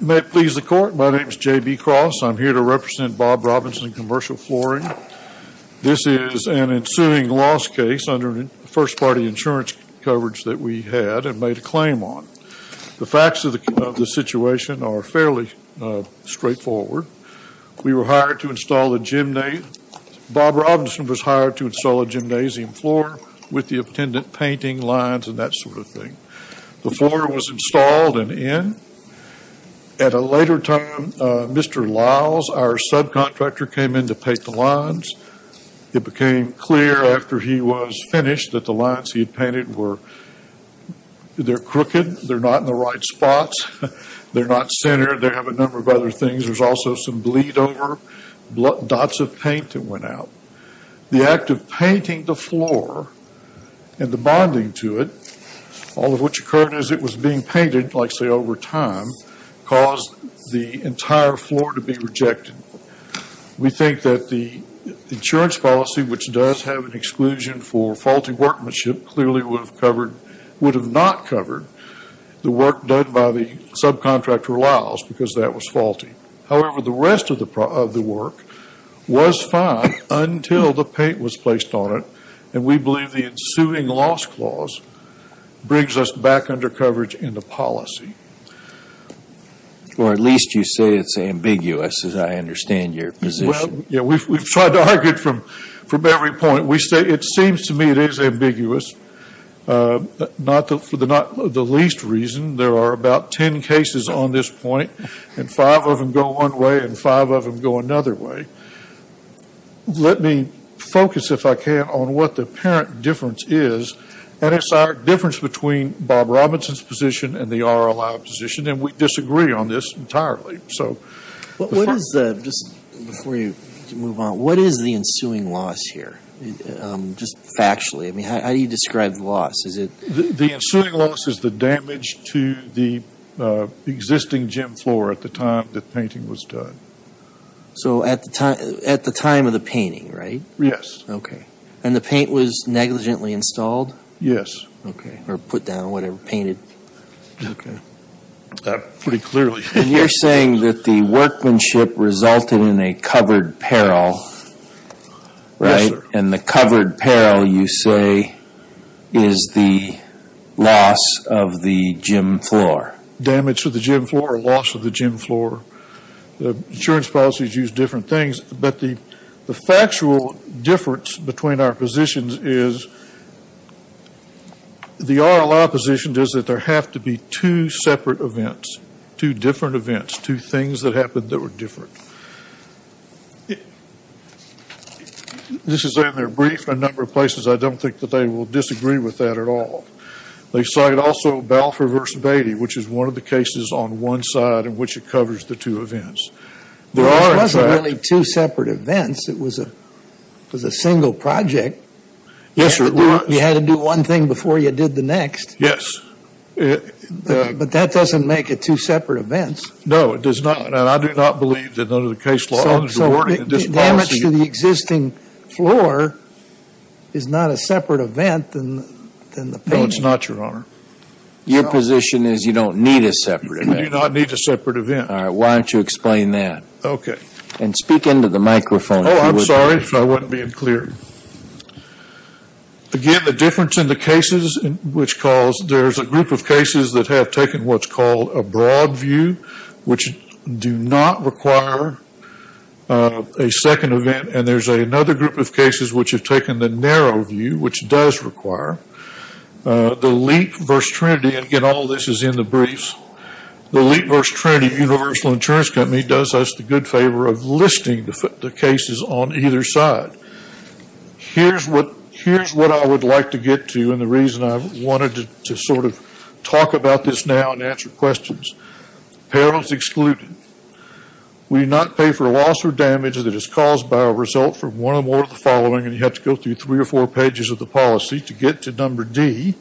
May it please the court, my name is J.B. Cross. I'm here to represent Bob Robison Commercial Flooring. This is an ensuing loss case under first party insurance coverage that we had and made a claim on. The facts of the situation are fairly straightforward. We were hired to install a gymnasium. Bob Robison was hired to install a gymnasium floor with the attendant painting lines and that sort of thing. The floor was installed and in. At a later time, Mr. Liles, our subcontractor, came in to paint the lines. It became clear after he was finished that the lines he had painted were, they're crooked, they're not in the right spots, they're not centered, they have a number of other things. There's also some bleed over, dots of paint that went out. The act of painting the floor and the bonding to it, all of which occurred as it was being painted, like say over time, caused the entire floor to be rejected. We think that the insurance policy, which does have an exclusion for faulty workmanship, clearly would have not covered the work done by the subcontractor, Liles, because that was faulty. However, the rest of the work was fine until the paint was placed on it and we believe the ensuing loss clause brings us back under coverage in the policy. Or at least you say it's ambiguous, as I understand your position. We've tried to argue it from every point. It seems to me it is ambiguous, for the least reason. There are about ten cases on this point and five of them go one way and five of them go another way. Let me focus, if I can, on what the apparent difference is and the difference between Bob Robinson's position and the RLI position. We disagree on this entirely. What is the ensuing loss here, just factually? How do you describe the loss? The ensuing loss is the damage to the existing gym floor at the time the painting was done. At the time of the painting, right? Yes. The paint was negligently installed? Yes. Okay. Or put down, whatever, painted. Okay. Pretty clearly. You're saying that the workmanship resulted in a covered peril, right? Yes, sir. And the covered peril, you say, is the loss of the gym floor. Damage to the gym floor or loss of the gym floor. Insurance policies use different things. But the factual difference between our positions is the RLI position is that there have to be two separate events, two different events, two things that happened that were different. This is in their brief in a number of places. I don't think that they will disagree with that at all. They cite also Balfour v. Beatty, which is one of the cases on one side in which it covers the two events. There are, in fact... It wasn't really two separate events. It was a single project. Yes, sir, it was. You had to do one thing before you did the next. Yes. But that doesn't make it two separate events. No, it does not. And I do not believe that under the case law there's a warning in this policy. So damage to the existing floor is not a separate event than the painting. No, it's not, Your Honor. Your position is you don't need a separate event. You do not need a separate event. All right, why don't you explain that? And speak into the microphone. Oh, I'm sorry if I wasn't being clear. Again, the difference in the cases which calls... There's a group of cases that have taken what's called a broad view, which do not require a second event. And there's another group of cases which have taken the narrow view, which does require. The Leap v. Trinity, and all this is in the briefs. The Leap v. Trinity Universal Insurance Company does us the good favor of listing the cases on either side. Here's what I would like to get to and the reason I wanted to sort of talk about this now and answer questions. Parallels excluded. We do not pay for loss or damage that is caused by a result from one or more of the following, and you have to go through three or four pages of the policy to get to number D,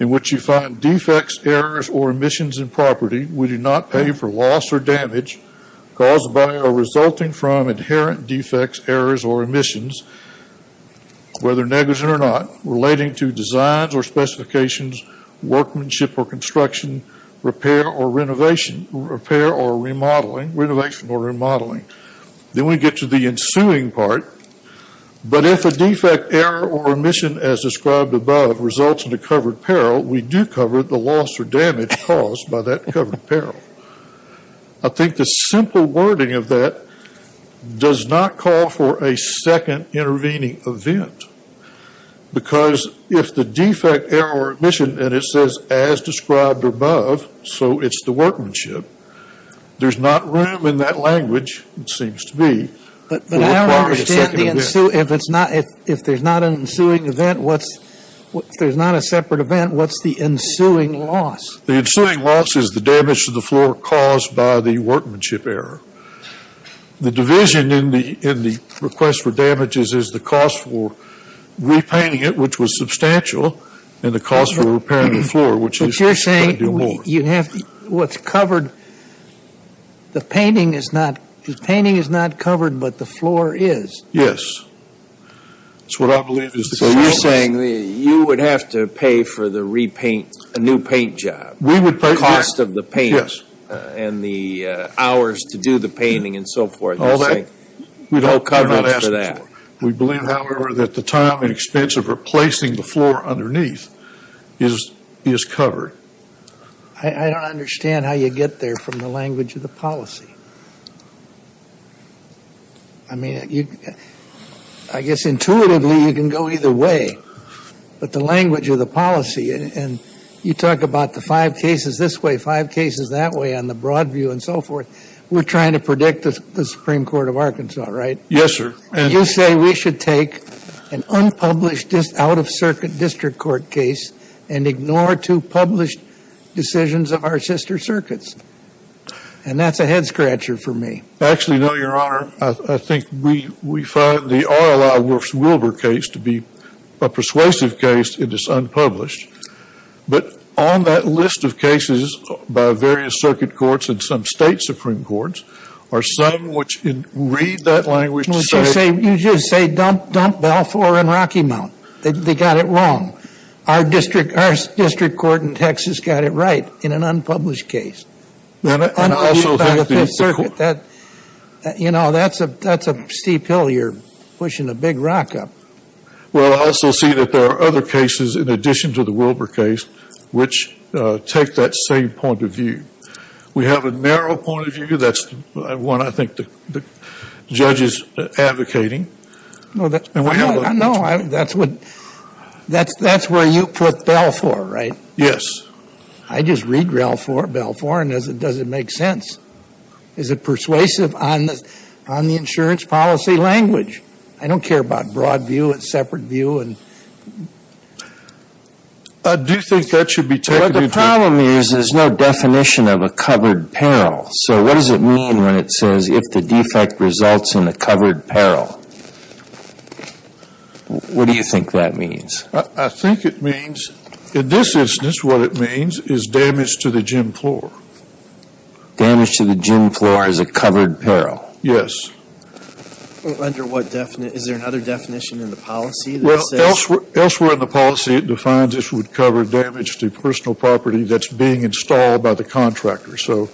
in which you find defects, errors, or emissions in property. We do not pay for loss or damage caused by or resulting from inherent defects, errors, or emissions, whether negligent or not, relating to designs or specifications, workmanship or construction, repair or renovation, repair or remodeling, renovation or remodeling. Then we get to the ensuing part. But if a defect, error, or emission as described above results in a covered peril, we do cover the loss or damage caused by that covered peril. I think the simple wording of that does not call for a second intervening event because if the defect, error, or emission, and it says as described above, so it's the workmanship, there's not room in that language, it seems to be, for a part of the second event. But I don't understand the ensuing. If there's not an ensuing event, what's, if there's not a separate event, what's the ensuing loss? The ensuing loss is the damage to the floor caused by the workmanship error. The division in the request for damages is the cost for repainting it, which was substantial, and the cost for repairing the floor, which is by doing more. You'd have, what's covered, the painting is not, the painting is not covered, but the floor is. Yes. That's what I believe is the floor. So you're saying you would have to pay for the repaint, a new paint job. We would pay for that. The cost of the paint. And the hours to do the painting and so forth. All that, we don't ask for that. We believe, however, that the time and expense of replacing the floor underneath is covered. I don't understand how you get there from the language of the policy. I mean, I guess intuitively you can go either way, but the language of the policy, and you talk about the five cases this way, five cases that way on the broad view and so forth, we're trying to predict the Supreme Court of Arkansas, right? Yes, sir. You say we should take an unpublished out-of-circuit district court case and ignore two published decisions of our sister circuits. And that's a head-scratcher for me. Actually, no, Your Honor, I think we find the R. L. I. Wolf's Wilbur case to be a persuasive case if it's unpublished. But on that list of cases by various circuit courts and some state Supreme Courts, are some which read that language to say... You just say dump Balfour and Rocky Mountain. They got it wrong. Our district court in Texas got it right in an unpublished case. Unpublished by the Fifth Circuit. You know, that's a steep hill you're pushing a big rock up. Well, I also see that there are other cases in addition to the Wilbur case which take that same point of view. We have a narrow point of view. That's one I think the judge is advocating. No, that's where you put Balfour, right? Yes. I just read Balfour and it doesn't make sense. Is it persuasive on the insurance policy language? I don't care about broad view and separate view. Do you think that should be taken into account? The problem is there's no definition of a covered peril. So what does it mean when it says, if the defect results in a covered peril? What do you think that means? I think it means... In this instance, what it means is damage to the gym floor. Damage to the gym floor is a covered peril? Yes. Is there another definition in the policy? Elsewhere in the policy it defines it would cover damage to personal property that's being installed by the contractor. So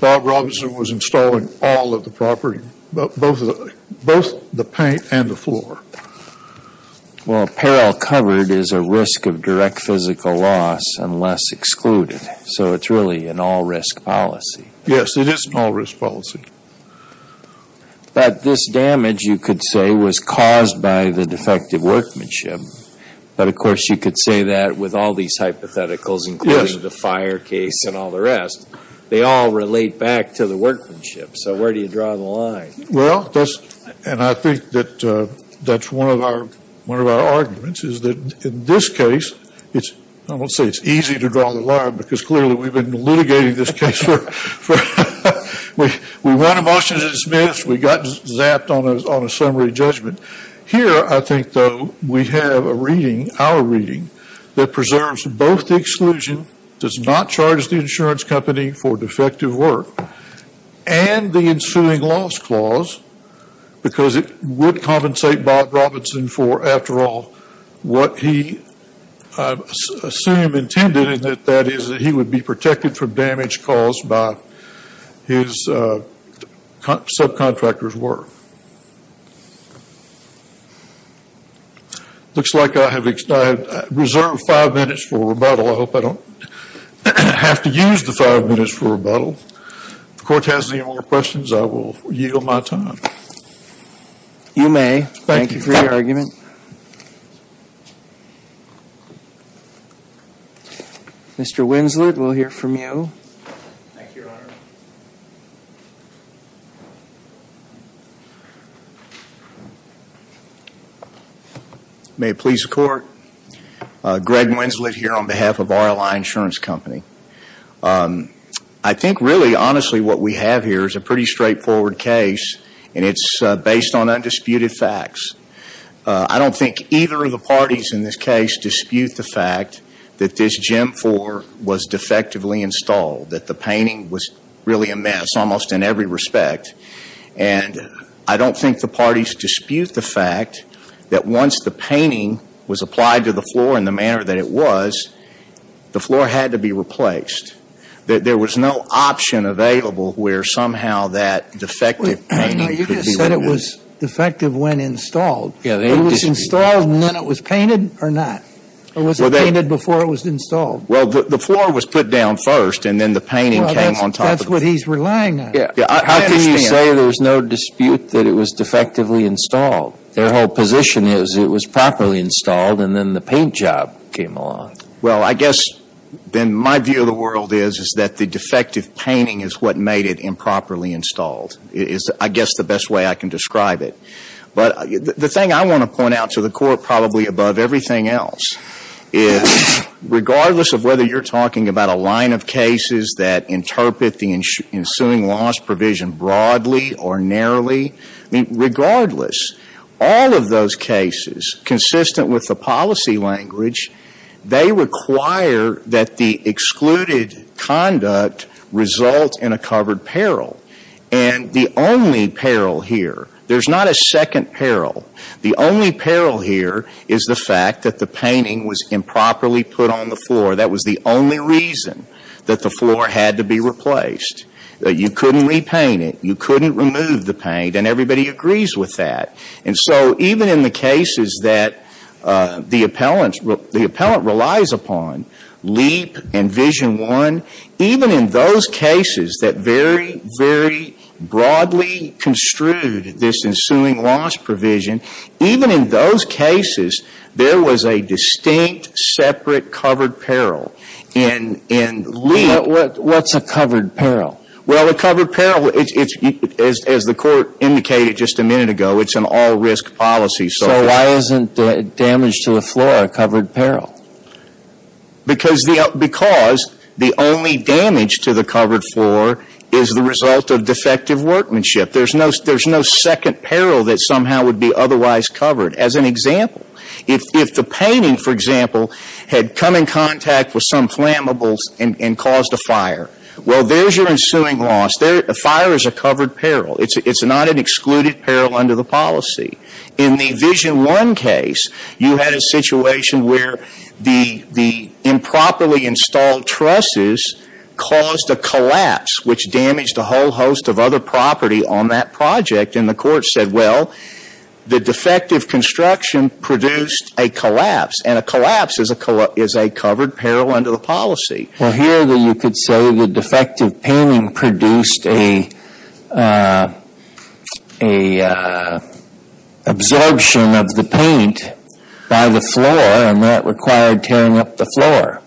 Bob Robinson was installing all of the property, both the paint and the floor. Well, peril covered is a risk of direct physical loss, unless excluded. So it's really an all-risk policy. Yes, it is an all-risk policy. But this damage, you could say, was caused by the defective workmanship. But of course you could say that with all these hypotheticals, including the fire case and all the rest. They all relate back to the workmanship. So where do you draw the line? Well, and I think that's one of our arguments, is that in this case, I won't say it's easy to draw the line, because clearly we've been litigating this case for... We won a motion to dismiss. We got zapped on a summary judgment. Here, I think, though, we have a reading, our reading, that preserves both the exclusion, does not charge the insurance company for defective work, and the ensuing loss clause, because it would compensate Bob Robinson for, after all, what he, I assume, intended, and that is that he would be protected from damage caused by his subcontractor's work. Looks like I have reserved five minutes for rebuttal. I hope I don't have to use the five minutes for rebuttal. If the Court has any more questions, I will yield my time. You may. Thank you for your argument. Mr. Winslet, we'll hear from you. Thank you, Your Honor. May it please the Court. Greg Winslet here on behalf of RLI Insurance Company. I think, really, honestly, what we have here is a pretty straightforward case, and it's based on undisputed facts. I don't think either of the parties in this case dispute the fact that this GEM IV was defectively installed, that the painting was really a mess, almost in every respect, and I don't think the parties dispute the fact that once the painting was applied to the floor in the manner that it was, the floor had to be replaced, that there was no option available where somehow that defective painting could be removed. You just said it was defective when installed. It was installed, and then it was painted, or not? Or was it painted before it was installed? Well, the floor was put down first, and then the painting came on top of it. That's what he's relying on. How can you say there's no dispute that it was defectively installed? Their whole position is it was properly installed, and then the paint job came along. Well, I guess then my view of the world is is that the defective painting is what made it improperly installed is, I guess, the best way I can describe it. But the thing I want to point out to the Court, probably above everything else, is regardless of whether you're talking about a line of cases that interpret the ensuing loss provision broadly or narrowly, regardless, all of those cases, consistent with the policy language, they require that the excluded conduct result in a covered peril. And the only peril here, there's not a second peril, the only peril here is the fact that the painting was improperly put on the floor. That was the only reason that the floor had to be replaced. You couldn't repaint it. You couldn't remove the paint, and everybody agrees with that. And so even in the cases that the appellant relies upon, LEAP and Vision 1, even in those cases that very, very broadly construed this ensuing loss provision, even in those cases, there was a distinct, separate, covered peril. And LEAP... What's a covered peril? Well, a covered peril, as the Court indicated just a minute ago, it's an all-risk policy. So why isn't damage to the floor a covered peril? Because the only damage to the covered floor is the result of defective workmanship. There's no second peril that somehow would be otherwise covered. As an example, if the painting, for example, had come in contact with some flammables and caused a fire, well, there's your ensuing loss. Fire is a covered peril. It's not an excluded peril under the policy. In the Vision 1 case, you had a situation where the improperly installed trusses caused a collapse, which damaged a whole host of other property on that project, and the Court said, well, the defective construction produced a collapse, and a collapse is a covered peril under the policy. Well, here you could say the defective painting produced a absorption of the paint by the floor, and that required tearing up the floor.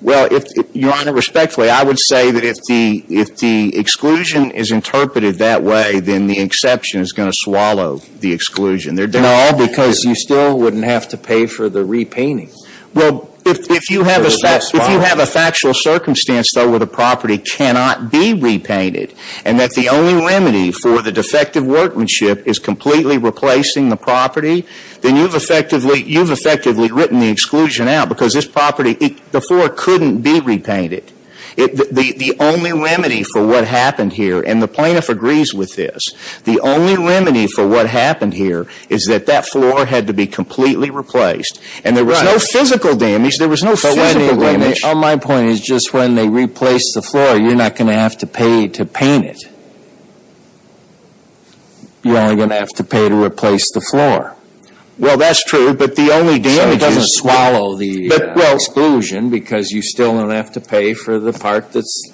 Well, Your Honor, respectfully, I would say that if the exclusion is interpreted that way, then the exception is going to swallow the exclusion. No, because you still wouldn't have to pay for the repainting. Well, if you have a factual circumstance, though, where the property cannot be repainted, and that the only remedy for the defective workmanship is completely replacing the property, then you've effectively written the exclusion out, because this property, the floor couldn't be repainted. The only remedy for what happened here, and the plaintiff agrees with this, the only remedy for what happened here is that that floor had to be completely replaced, and there was no physical damage. There was no physical damage. On my point, it's just when they replace the floor, you're not going to have to pay to paint it. You're only going to have to pay to replace the floor. Well, that's true, but the only damage is... So it doesn't swallow the exclusion, because you still don't have to pay for the part that's...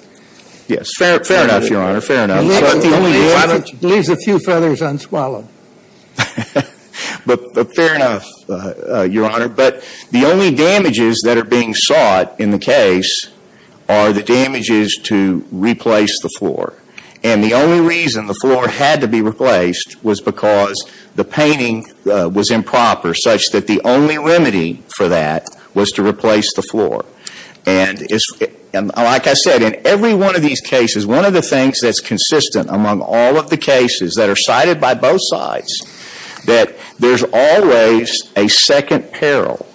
Yes. Fair enough, Your Honor, fair enough. It leaves a few feathers unswallowed. Fair enough, Your Honor, but the only damages that are being sought in the case are the damages to replace the floor, and the only reason the floor had to be replaced was because the painting was improper, such that the only remedy for that was to replace the floor, and like I said, in every one of these cases, one of the things that's consistent among all of the cases that are cited by both sides, that there's always a second peril.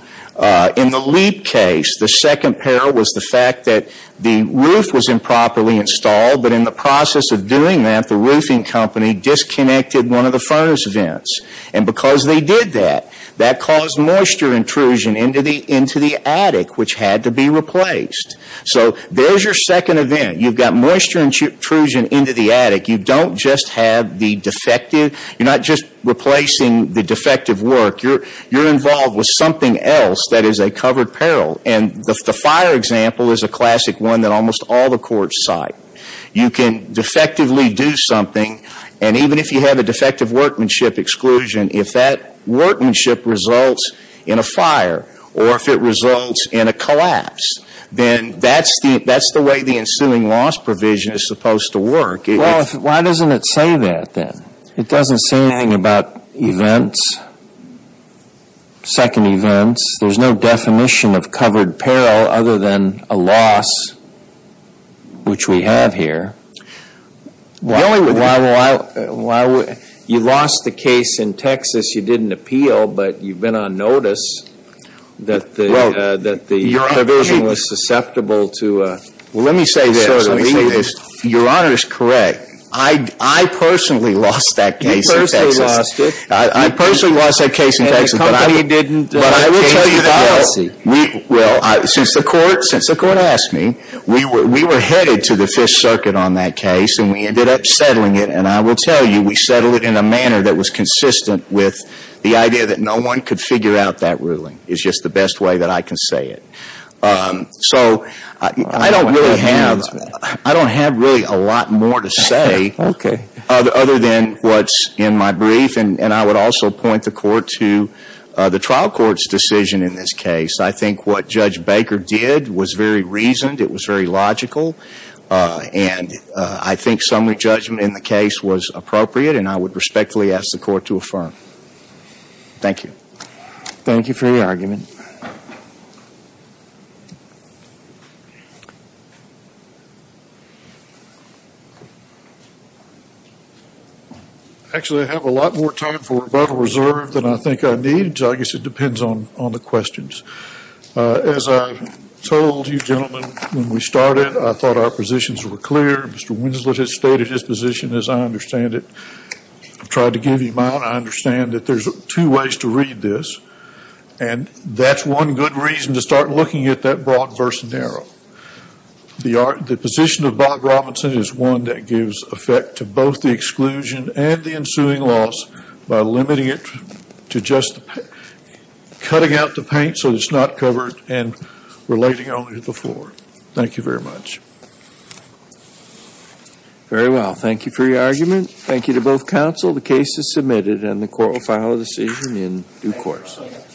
In the Leap case, the second peril was the fact that the roof was improperly installed, but in the process of doing that, the roofing company disconnected one of the furnace vents, and because they did that, that caused moisture intrusion into the attic, which had to be replaced. So there's your second event. You've got moisture intrusion into the attic. You don't just have the defective... You're not just replacing the defective work. You're involved with something else that is a covered peril, and the fire example is a classic one that almost all the courts cite. You can defectively do something, and even if you have a defective workmanship exclusion, if that workmanship results in a fire, or if it results in a collapse, then that's the way the ensuing loss provision is supposed to work. Well, why doesn't it say that then? It doesn't say anything about events, second events. There's no definition of covered peril other than a loss, which we have here. The only reason... You lost the case in Texas. You did an appeal, but you've been on notice that the provision was susceptible to... Well, let me say this. Your Honor is correct. I personally lost that case in Texas. You personally lost it. I personally lost that case in Texas, but I will tell you that since the court asked me, we were headed to the Fifth Circuit on that case, and we ended up settling it, and I will tell you we settled it in a manner that was consistent with the idea that no one could figure out that ruling is just the best way that I can say it. So I don't really have... I don't have really a lot more to say other than what's in my brief, and I would also point the court to the trial court's decision in this case. I think what Judge Baker did was very reasoned. It was very logical, and I think summary judgment in the case was appropriate, and I would respectfully ask the court to affirm. Thank you. Thank you for your argument. Actually, I have a lot more time for rebuttal reserve than I think I need, so I guess it depends on the questions. As I told you gentlemen when we started, I thought our positions were clear. Mr. Winslet has stated his position, as I understand it. I've tried to give you mine. I understand that there's two ways to read this, and that's one good reason to start looking at that broad versus narrow. The position of Bob Robinson is one that gives effect to both the exclusion and the ensuing loss by limiting it to just cutting out the paint so it's not covered and relating only to the floor. Thank you very much. Very well. Thank you for your argument. Thank you to both counsel. The case is submitted, and the court will file a decision in due course.